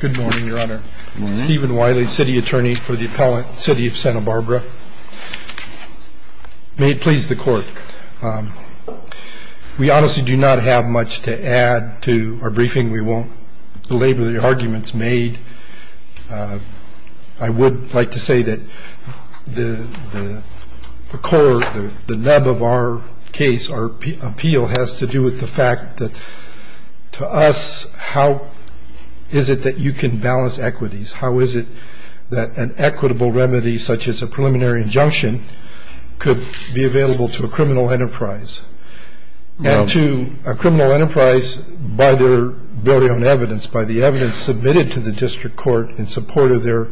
Good morning, Your Honor. Stephen Wiley, City Attorney for the appellate City of Santa Barbara. May it please the Court, we honestly do not have much to add to our briefing. We won't belabor the arguments made. I would like to say that the core, the nub of our case, our appeal, has to do with the fact that to us, how is it that you can balance equities? How is it that an equitable remedy such as a preliminary injunction could be available to a criminal enterprise? And to a criminal enterprise by their ability on evidence, by the evidence submitted to the district court in support of their,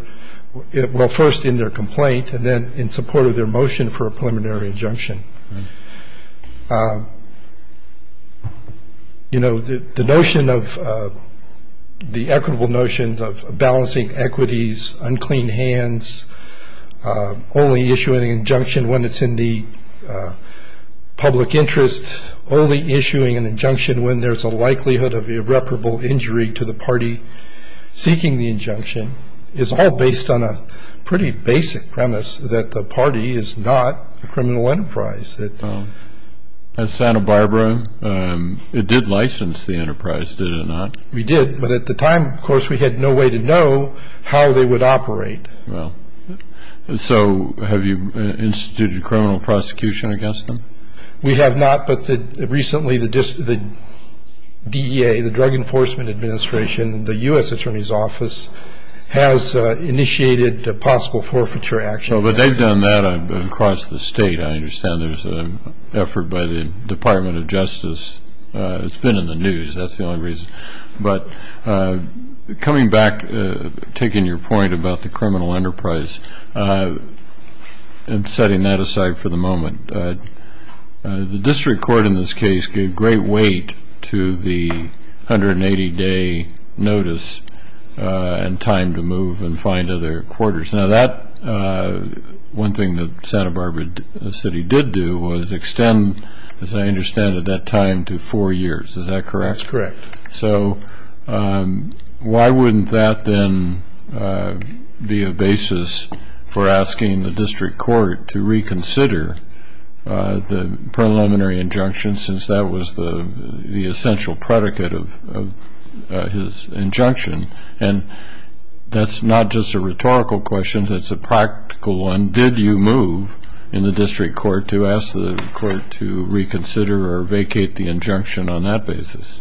well, first in their complaint, and then in support of their motion for a preliminary injunction. You know, the notion of, the equitable notion of balancing equities, unclean hands, only issuing an injunction when it's in the public interest, only issuing an injunction when there's a likelihood of irreparable injury to the party seeking the injunction, is all based on a pretty basic premise that the party is not a criminal enterprise. At Santa Barbara, it did license the enterprise, did it not? We did, but at the time, of course, we had no way to know how they would operate. So have you instituted criminal prosecution against them? We have not, but recently the DEA, the Drug Enforcement Administration, the U.S. Attorney's Office has initiated possible forfeiture actions. But they've done that across the state. I understand there's an effort by the Department of Justice. It's been in the news, that's the only reason. But coming back, taking your point about the criminal enterprise, setting that aside for the moment, the district court in this case gave great weight to the 180-day notice and time to move and find other quarters. Now that, one thing that Santa Barbara City did do was extend, as I understand it, that time to four years. That's correct. So why wouldn't that then be a basis for asking the district court to reconsider the preliminary injunction, since that was the essential predicate of his injunction? And that's not just a rhetorical question, that's a practical one. Did you move in the district court to ask the court to reconsider or vacate the injunction on that basis?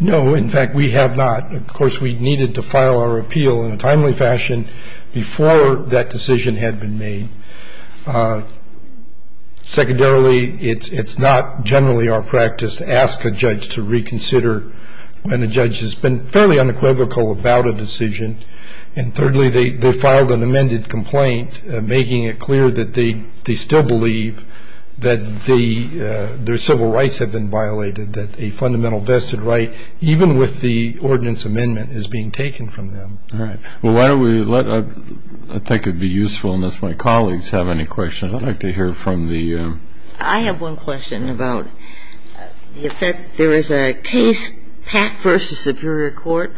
No, in fact, we have not. Of course, we needed to file our appeal in a timely fashion before that decision had been made. Secondarily, it's not generally our practice to ask a judge to reconsider when a judge has been fairly unequivocal about a decision. And thirdly, they filed an amended complaint, making it clear that they still believe that their civil rights have been violated, that a fundamental vested right, even with the ordinance amendment, is being taken from them. All right. Well, why don't we let — I think it would be useful unless my colleagues have any questions. I'd like to hear from the — I have one question about the effect. There is a case, Pack v. Superior Court,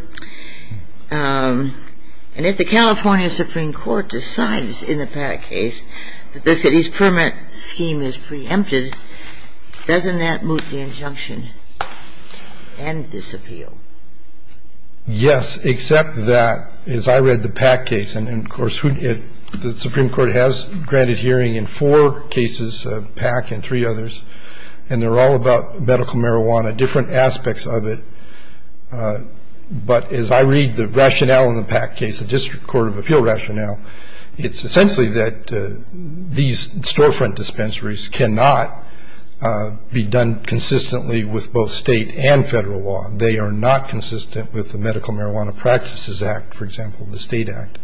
and if the California Supreme Court decides in the Pack case that the city's permit scheme is preempted, doesn't that moot the injunction and disappeal? Yes, except that, as I read the Pack case, and, of course, the Supreme Court has granted hearing in four cases, Pack and three others, and they're all about medical marijuana, different aspects of it. But as I read the rationale in the Pack case, the district court of appeal rationale, it's essentially that these storefront dispensaries cannot be done consistently with both state and federal law. They are not consistent with the Medical Marijuana Practices Act, for example, the state act.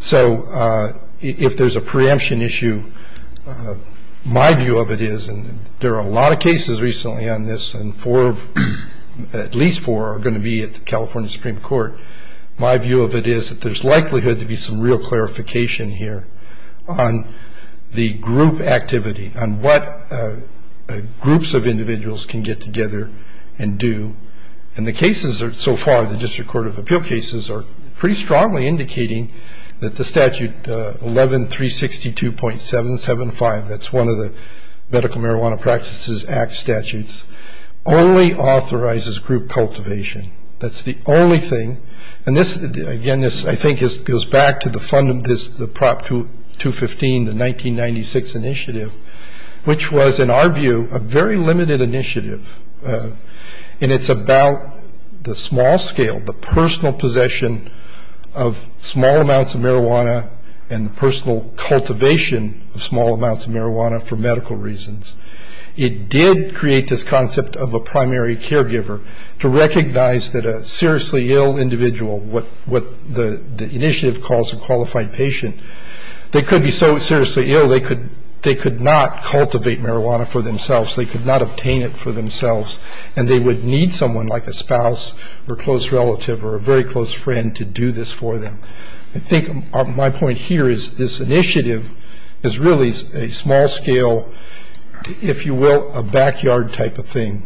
So if there's a preemption issue, my view of it is, and there are a lot of cases recently on this, and four of — at least four are going to be at the California Supreme Court. My view of it is that there's likelihood to be some real clarification here on the group activity, on what groups of individuals can get together and do. And the cases so far, the district court of appeal cases, are pretty strongly indicating that the statute 11-362.775, that's one of the Medical Marijuana Practices Act statutes, only authorizes group cultivation. That's the only thing. And this, again, I think goes back to the prop 215, the 1996 initiative, which was, in our view, a very limited initiative. And it's about the small scale, the personal possession of small amounts of marijuana and the personal cultivation of small amounts of marijuana for medical reasons. It did create this concept of a primary caregiver to recognize that a seriously ill individual, what the initiative calls a qualified patient, they could be so seriously ill, they could not cultivate marijuana for themselves. They could not obtain it for themselves. And they would need someone like a spouse or close relative or a very close friend to do this for them. I think my point here is this initiative is really a small scale, if you will, a backyard type of thing.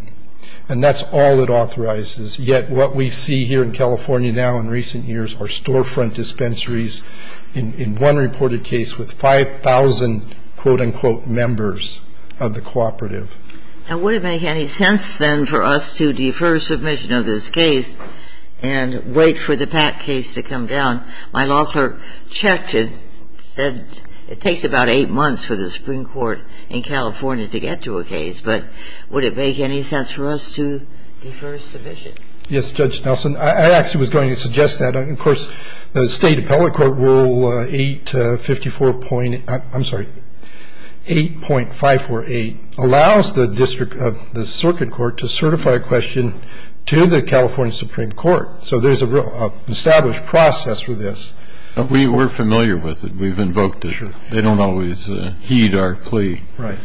And that's all it authorizes. Yet what we see here in California now in recent years are storefront dispensaries in one reported case with 5,000, quote, unquote, members of the cooperative. And would it make any sense, then, for us to defer submission of this case and wait for the PAC case to come down? My law clerk checked and said it takes about eight months for the Supreme Court in California to get to a case. But would it make any sense for us to defer submission? Yes, Judge Nelson. I actually was going to suggest that. Of course, the State Appellate Court Rule 854. I'm sorry, 8.548 allows the district of the circuit court to certify a question to the California Supreme Court. So there's an established process for this. We're familiar with it. We've invoked it. They don't always heed our plea. Right.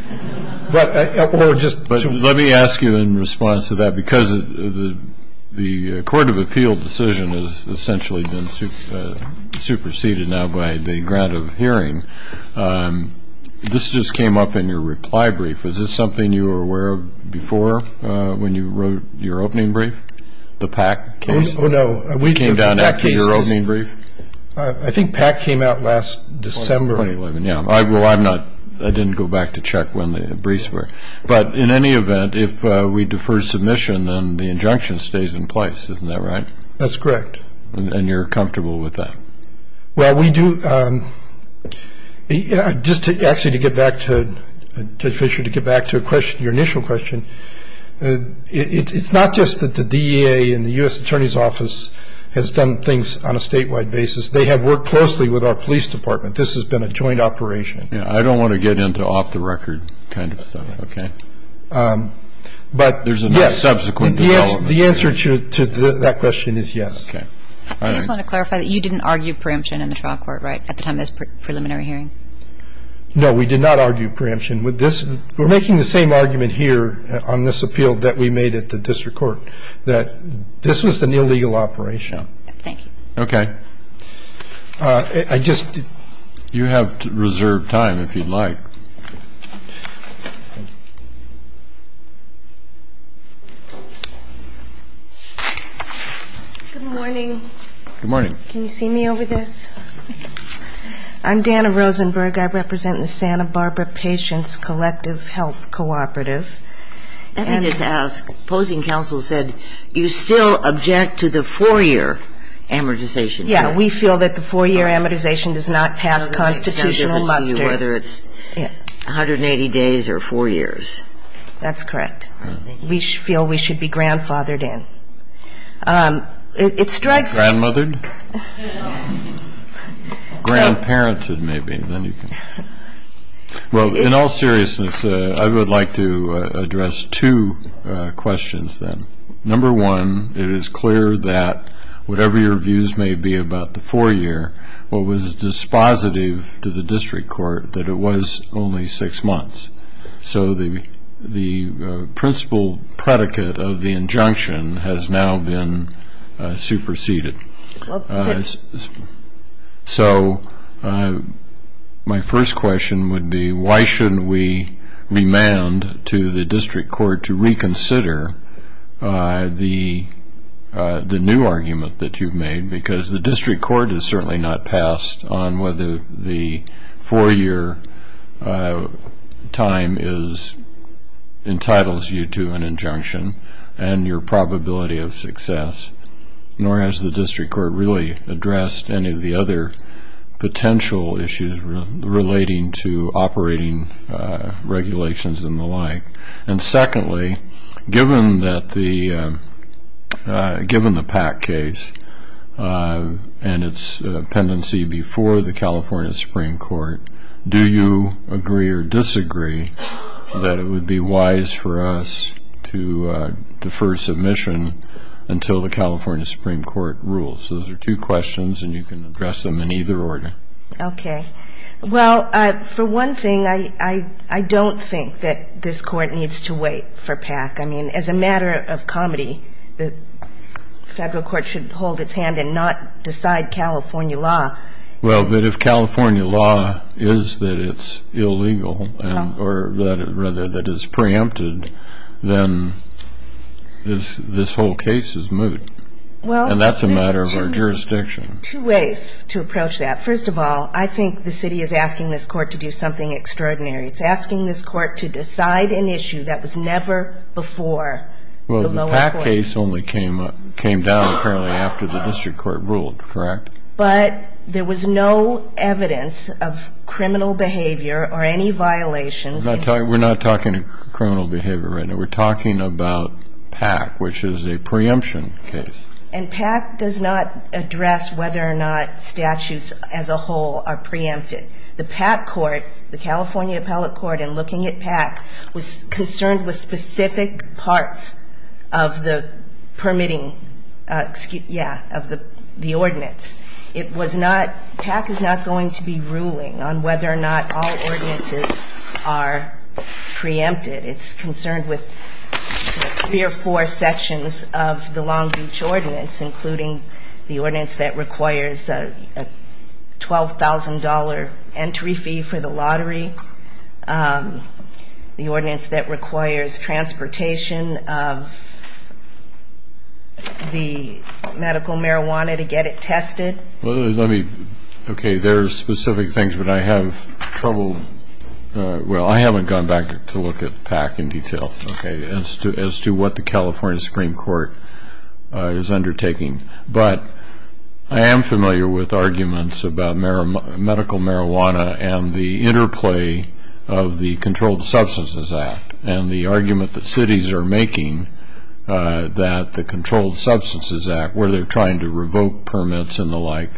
But let me ask you in response to that. Because the court of appeal decision has essentially been superseded now by the grant of hearing, this just came up in your reply brief. Is this something you were aware of before when you wrote your opening brief, the PAC case? Oh, no. It came down after your opening brief? I think PAC came out last December. 2011, yeah. Well, I didn't go back to check when the briefs were. But in any event, if we defer submission, then the injunction stays in place. Isn't that right? That's correct. And you're comfortable with that? Well, we do. Just actually to get back to Judge Fischer, to get back to your initial question, it's not just that the DEA and the U.S. Attorney's Office has done things on a statewide basis. They have worked closely with our police department. This has been a joint operation. I don't want to get into off-the-record kind of stuff, okay? But, yes, the answer to that question is yes. Okay. I just want to clarify that you didn't argue preemption in the trial court, right, at the time of this preliminary hearing? No, we did not argue preemption. We're making the same argument here on this appeal that we made at the district court, that this was an illegal operation. Thank you. Okay. I just did. You have reserved time, if you'd like. Good morning. Good morning. Can you see me over this? I'm Dana Rosenberg. I represent the Santa Barbara Patients Collective Health Cooperative. Let me just ask, opposing counsel said you still object to the four-year amortization. Yeah, we feel that the four-year amortization does not pass constitutional muster. Whether it's 180 days or four years. That's correct. We feel we should be grandfathered in. It strikes me. Grandmothered? Grandparented, maybe. Well, in all seriousness, I would like to address two questions, then. Number one, it is clear that whatever your views may be about the four-year, what was dispositive to the district court that it was only six months. So the principal predicate of the injunction has now been superseded. Okay. So my first question would be, why shouldn't we remand to the district court to reconsider the new argument that you've made? Because the district court has certainly not passed on whether the four-year time entitles you to an injunction and your probability of success. Nor has the district court really addressed any of the other potential issues relating to operating regulations and the like. And secondly, given the Pack case and its pendency before the California Supreme Court, do you agree or disagree that it would be wise for us to defer submission until the California Supreme Court rules? Those are two questions, and you can address them in either order. Okay. Well, for one thing, I don't think that this Court needs to wait for Pack. I mean, as a matter of comedy, the federal court should hold its hand and not decide California law. Well, but if California law is that it's illegal or rather that it's preempted, then this whole case is moot, and that's a matter of our jurisdiction. Well, there's two ways to approach that. First of all, I think the city is asking this Court to do something extraordinary. It's asking this Court to decide an issue that was never before the lower court. Well, the Pack case only came down apparently after the district court ruled, correct? But there was no evidence of criminal behavior or any violations. We're not talking criminal behavior right now. We're talking about Pack, which is a preemption case. And Pack does not address whether or not statutes as a whole are preempted. The Pack court, the California appellate court in looking at Pack, was concerned with specific parts of the permitting, yeah, of the ordinance. It was not, Pack is not going to be ruling on whether or not all ordinances are preempted. It's concerned with three or four sections of the Long Beach ordinance, including the ordinance that requires a $12,000 entry fee for the lottery. The ordinance that requires transportation of the medical marijuana to get it tested. Well, let me, okay, there are specific things, but I have trouble, well, I haven't gone back to look at Pack in detail, okay, as to what the California Supreme Court is undertaking. But I am familiar with arguments about medical marijuana and the interplay of the Controlled Substances Act and the argument that cities are making that the Controlled Substances Act, where they're trying to revoke permits and the like,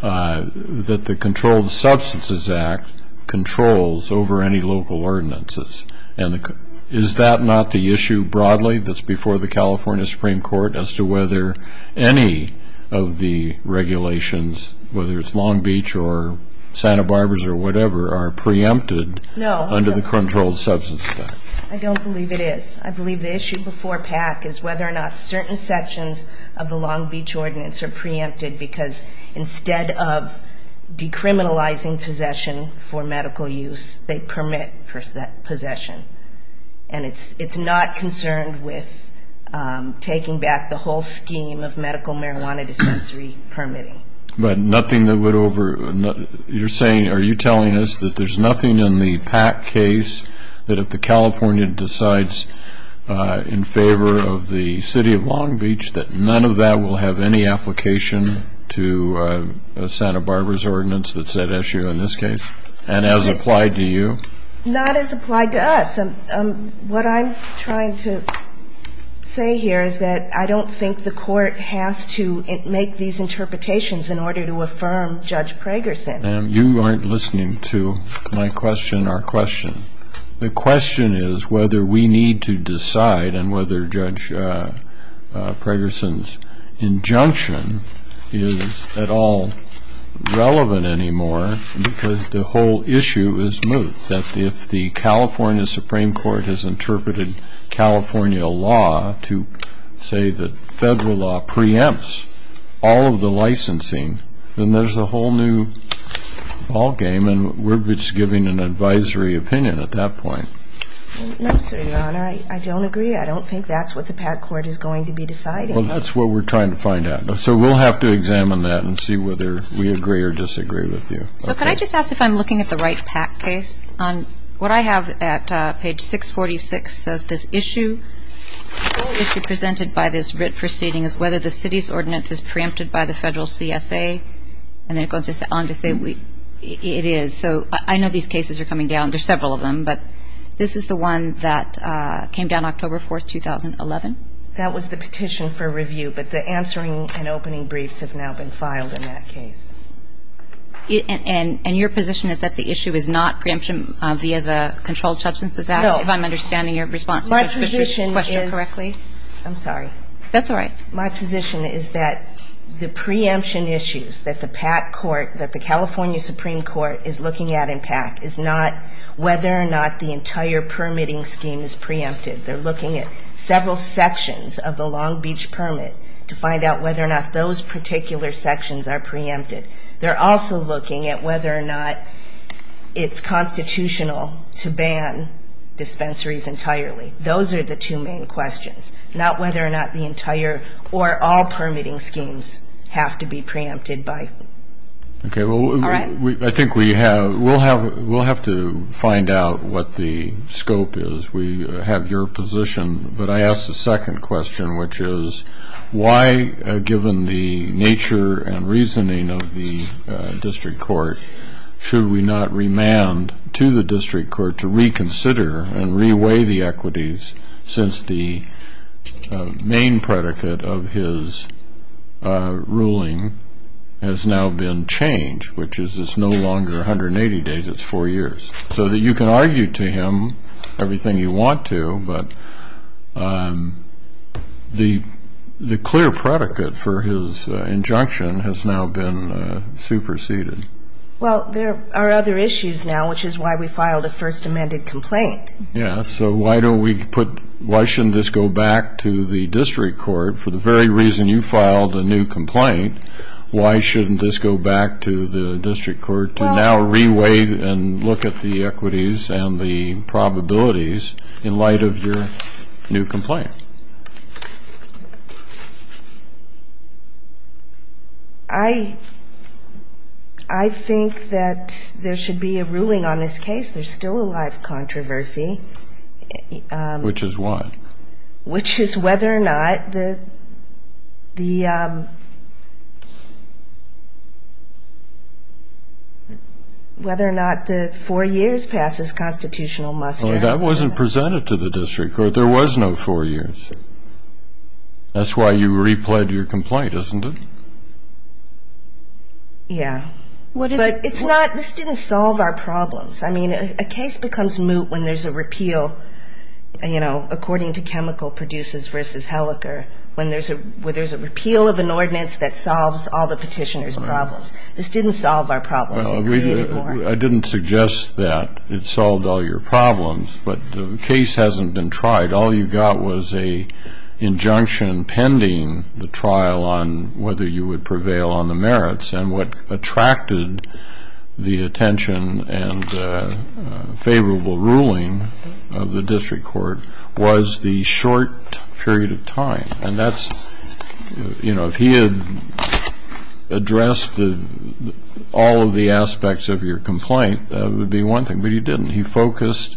that the Controlled Substances Act controls over any local ordinances. And is that not the issue broadly that's before the California Supreme Court as to whether any of the regulations, whether it's Long Beach or Santa Barbara's or whatever, are preempted under the Controlled Substances Act? I don't believe it is. I believe the issue before Pack is whether or not certain sections of the Long Beach ordinance are preempted because instead of decriminalizing possession for medical use, they permit possession. And it's not concerned with taking back the whole scheme of medical marijuana dispensary permitting. But nothing that would over, you're saying, are you telling us that there's nothing in the Pack case that if the California decides in favor of the city of Long Beach, that none of that will have any application to Santa Barbara's ordinance that's at issue in this case? And as applied to you? Not as applied to us. What I'm trying to say here is that I don't think the Court has to make these interpretations in order to affirm Judge Pragerson. And you aren't listening to my question or question. The question is whether we need to decide and whether Judge Pragerson's injunction is at all relevant anymore because the whole issue is moot, that if the California Supreme Court has interpreted California law to say that federal law preempts all of the licensing, then there's a whole new ballgame, and we're just giving an advisory opinion at that point. No, sir, Your Honor. I don't agree. I don't think that's what the Pack Court is going to be deciding. Well, that's what we're trying to find out. So we'll have to examine that and see whether we agree or disagree with you. So could I just ask if I'm looking at the Wright-Pack case? What I have at page 646 says this issue, the whole issue presented by this writ proceeding is whether the city's ordinance is preempted by the federal CSA. And then it goes on to say it is. So I know these cases are coming down. There are several of them, but this is the one that came down October 4, 2011. That was the petition for review, but the answering and opening briefs have now been filed in that case. And your position is that the issue is not preemption via the Controlled Substances Act? No. If I'm understanding your response to Judge Bush's question correctly. I'm sorry. That's all right. My position is that the preemption issues that the Pack Court, that the California Supreme Court is looking at in Pack, is not whether or not the entire permitting scheme is preempted. They're looking at several sections of the Long Beach permit to find out whether or not those particular sections are preempted. They're also looking at whether or not it's constitutional to ban dispensaries entirely. Those are the two main questions, not whether or not the entire or all permitting schemes have to be preempted by. Okay. All right. I think we'll have to find out what the scope is. We have your position. But I ask the second question, which is why, given the nature and reasoning of the district court, should we not remand to the district court to reconsider and reweigh the equities since the main predicate of his ruling has now been changed, which is it's no longer 180 days, it's four years. So that you can argue to him everything you want to, but the clear predicate for his injunction has now been superseded. Well, there are other issues now, which is why we filed a first amended complaint. Yes. So why don't we put why shouldn't this go back to the district court? For the very reason you filed a new complaint, why shouldn't this go back to the district court to now reweigh and look at the equities and the probabilities in light of your new complaint? I think that there should be a ruling on this case. There's still a live controversy. Which is what? Which is whether or not the four years passes constitutional muster. That wasn't presented to the district court. There was no four years. That's why you replayed your complaint, isn't it? Yes. But this didn't solve our problems. I mean, a case becomes moot when there's a repeal, you know, according to Chemical Producers v. Hellecker, when there's a repeal of an ordinance that solves all the petitioner's problems. This didn't solve our problems. I didn't suggest that it solved all your problems, but the case hasn't been tried. All you got was an injunction pending the trial on whether you would prevail on the merits. And what attracted the attention and favorable ruling of the district court was the short period of time. And that's, you know, if he had addressed all of the aspects of your complaint, that would be one thing, but he didn't. He focused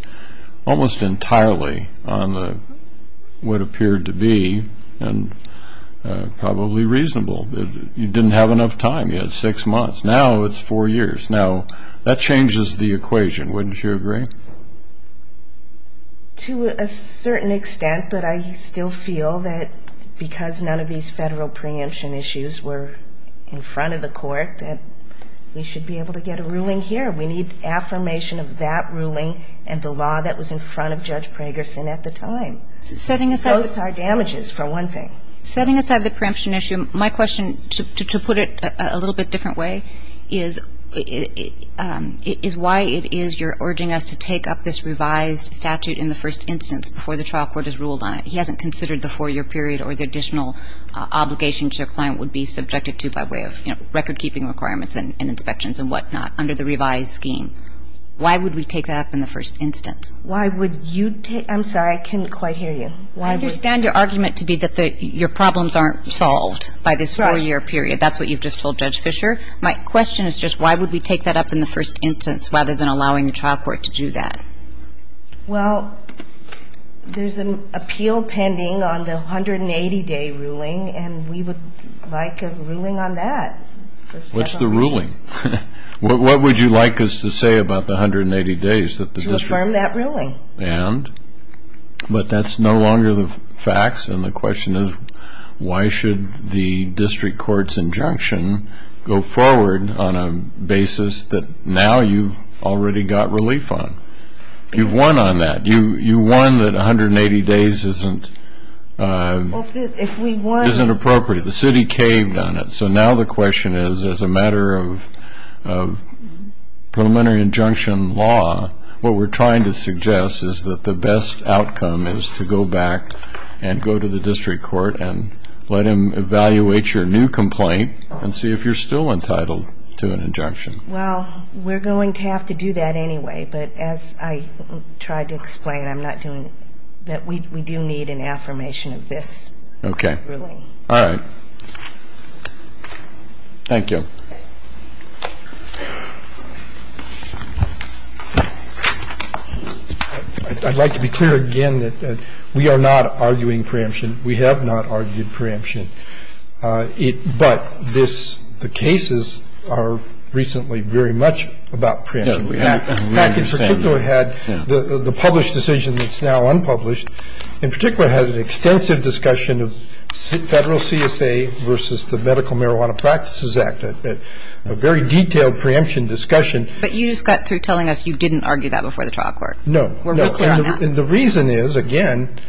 almost entirely on what appeared to be probably reasonable. You didn't have enough time. You had six months. Now it's four years. Now that changes the equation, wouldn't you agree? To a certain extent, but I still feel that because none of these federal preemption issues were in front of the court, that we should be able to get a ruling here. We need affirmation of that ruling and the law that was in front of Judge Pragerson at the time. Setting aside the preemption issue, my question, to put it a little bit different way, is why it is you're urging us to take up this revised statute in the first instance before the trial court has ruled on it? He hasn't considered the four-year period or the additional obligations your client would be subjected to by way of, you know, record-keeping requirements and inspections and whatnot under the revised scheme. Why would we take that up in the first instance? Why would you take that up? I'm sorry, I couldn't quite hear you. I understand your argument to be that your problems aren't solved by this four-year period. That's what you've just told Judge Fischer. My question is just why would we take that up in the first instance rather than allowing the trial court to do that? Well, there's an appeal pending on the 180-day ruling, and we would like a ruling on that. What's the ruling? What would you like us to say about the 180 days that the district? To affirm that ruling. And? But that's no longer the facts, and the question is why should the district court's injunction go forward on a basis that now you've already got relief on? You've won on that. You won that 180 days isn't appropriate. The city caved on it. So now the question is as a matter of preliminary injunction law, what we're trying to suggest is that the best outcome is to go back and go to the district court and let him evaluate your new complaint and see if you're still entitled to an injunction. Well, we're going to have to do that anyway, but as I tried to explain, I'm not doing that. We do need an affirmation of this ruling. Okay. All right. Thank you. I'd like to be clear again that we are not arguing preemption. We have not argued preemption. But this, the cases are recently very much about preemption. We have had the published decision that's now unpublished, in particular had an extensive discussion of federal CSA versus the Medical Marijuana Practices Act, a very detailed preemption discussion. But you just got through telling us you didn't argue that before the trial court. No. We're clear on that. And the reason is, again,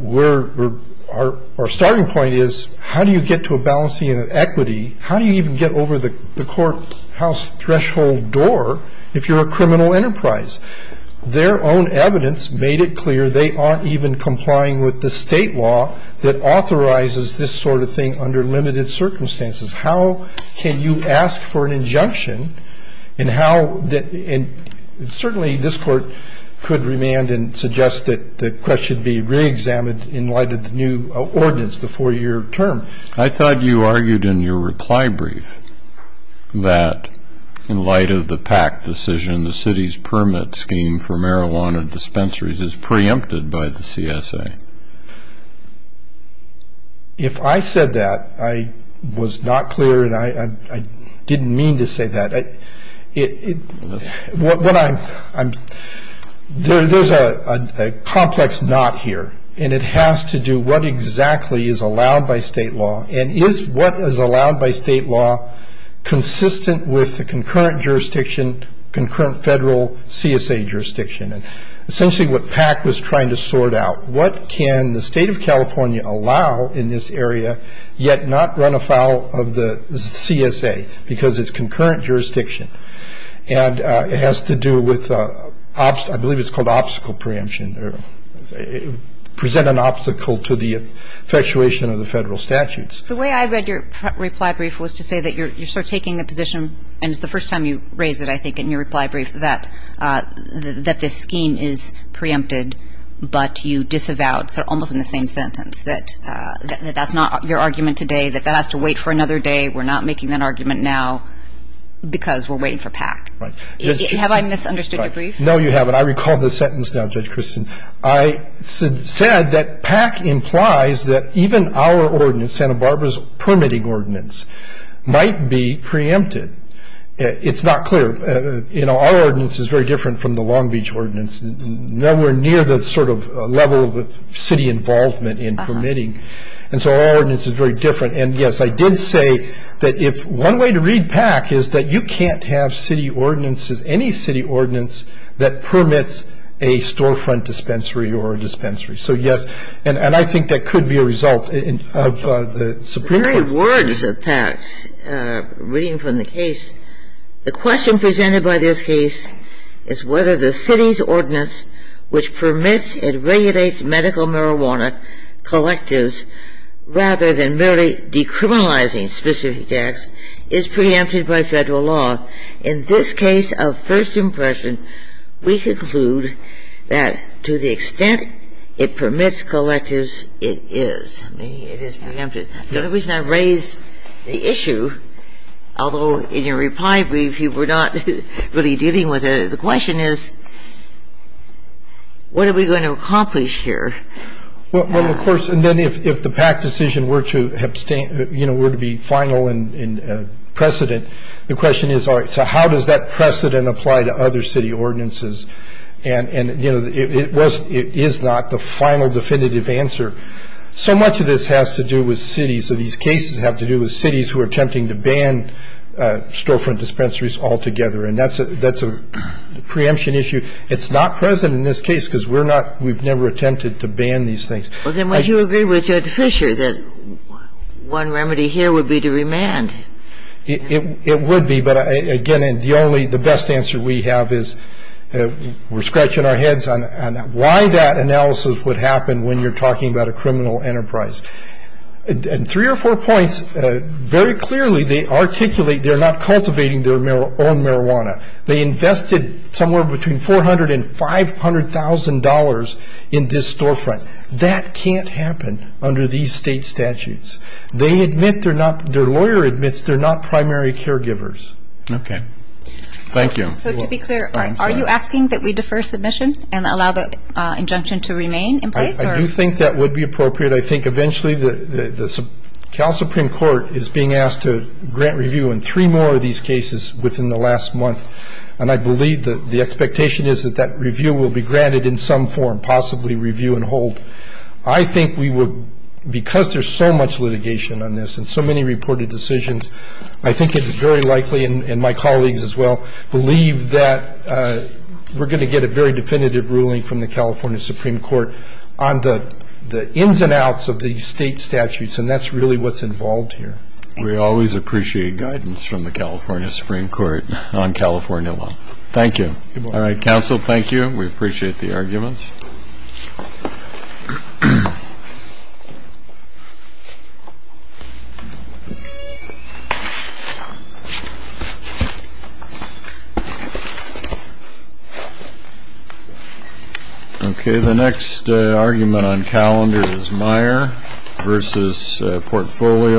our starting point is how do you get to a balancing of equity? How do you even get over the courthouse threshold door if you're a criminal enterprise? Their own evidence made it clear they aren't even complying with the State law that authorizes this sort of thing under limited circumstances. How can you ask for an injunction and how the – and certainly this Court could remand and suggest that the question be reexamined in light of the new ordinance, the four-year term. I thought you argued in your reply brief that in light of the PAC decision, the city's permit scheme for marijuana dispensaries is preempted by the CSA. If I said that, I was not clear and I didn't mean to say that. There's a complex knot here, and it has to do what exactly is allowed by State law and is what is allowed by State law consistent with the concurrent jurisdiction, concurrent federal CSA jurisdiction. And essentially what PAC was trying to sort out, what can the State of California allow in this area yet not run afoul of the CSA because it's concurrent jurisdiction and it has to do with – I believe it's called obstacle preemption or present an obstacle to the effectuation of the federal statutes. The way I read your reply brief was to say that you're sort of taking the position and it's the first time you raise it, I think, in your reply brief that this scheme is preempted but you disavow it, so almost in the same sentence, that that's not your argument today, that that has to wait for another day. We're not making that argument now because we're waiting for PAC. Have I misunderstood your brief? No, you haven't. I recall the sentence now, Judge Christin. I said that PAC implies that even our ordinance, Santa Barbara's permitting ordinance, might be preempted. It's not clear. Our ordinance is very different from the Long Beach ordinance, nowhere near the sort of level of city involvement in permitting. And so our ordinance is very different. And, yes, I did say that if – one way to read PAC is that you can't have city ordinances, any city ordinance that permits a storefront dispensary or a dispensary. So, yes, and I think that could be a result of the Supreme Court's – The question presented by this case is whether the city's ordinance, which permits and regulates medical marijuana collectives, rather than merely decriminalizing specific attacks, is preempted by Federal law. In this case of first impression, we conclude that to the extent it permits collectives, it is. It is preempted. So the reason I raise the issue, although in your reply brief you were not really dealing with it, the question is what are we going to accomplish here? Well, of course, and then if the PAC decision were to – you know, were to be final and precedent, the question is, all right, so how does that precedent apply to other city ordinances? And, you know, it was – it is not the final definitive answer. So much of this has to do with cities. These cases have to do with cities who are attempting to ban storefront dispensaries altogether, and that's a – that's a preemption issue. It's not present in this case because we're not – we've never attempted to ban these things. Well, then would you agree with Judge Fischer that one remedy here would be to remand? It would be, but, again, the only – the best answer we have is we're scratching our heads on why that analysis would happen when you're talking about a criminal enterprise. In three or four points, very clearly they articulate they're not cultivating their own marijuana. They invested somewhere between $400,000 and $500,000 in this storefront. That can't happen under these state statutes. They admit they're not – their lawyer admits they're not primary caregivers. Okay. Thank you. So to be clear, are you asking that we defer submission and allow the injunction to remain in place, or – I do think that would be appropriate. I think eventually the Supreme Court is being asked to grant review in three more of these cases within the last month, and I believe that the expectation is that that review will be granted in some form, possibly review and hold. I think we would – because there's so much litigation on this and so many reported decisions, I think it is very likely, and my colleagues as well, believe that we're going to get a very definitive ruling from the California Supreme Court on the ins and outs of these state statutes, and that's really what's involved here. We always appreciate guidance from the California Supreme Court on California law. Thank you. All right. Counsel, thank you. We appreciate the arguments. Thank you. Okay. The next argument on calendar is Meyer versus Portfolio.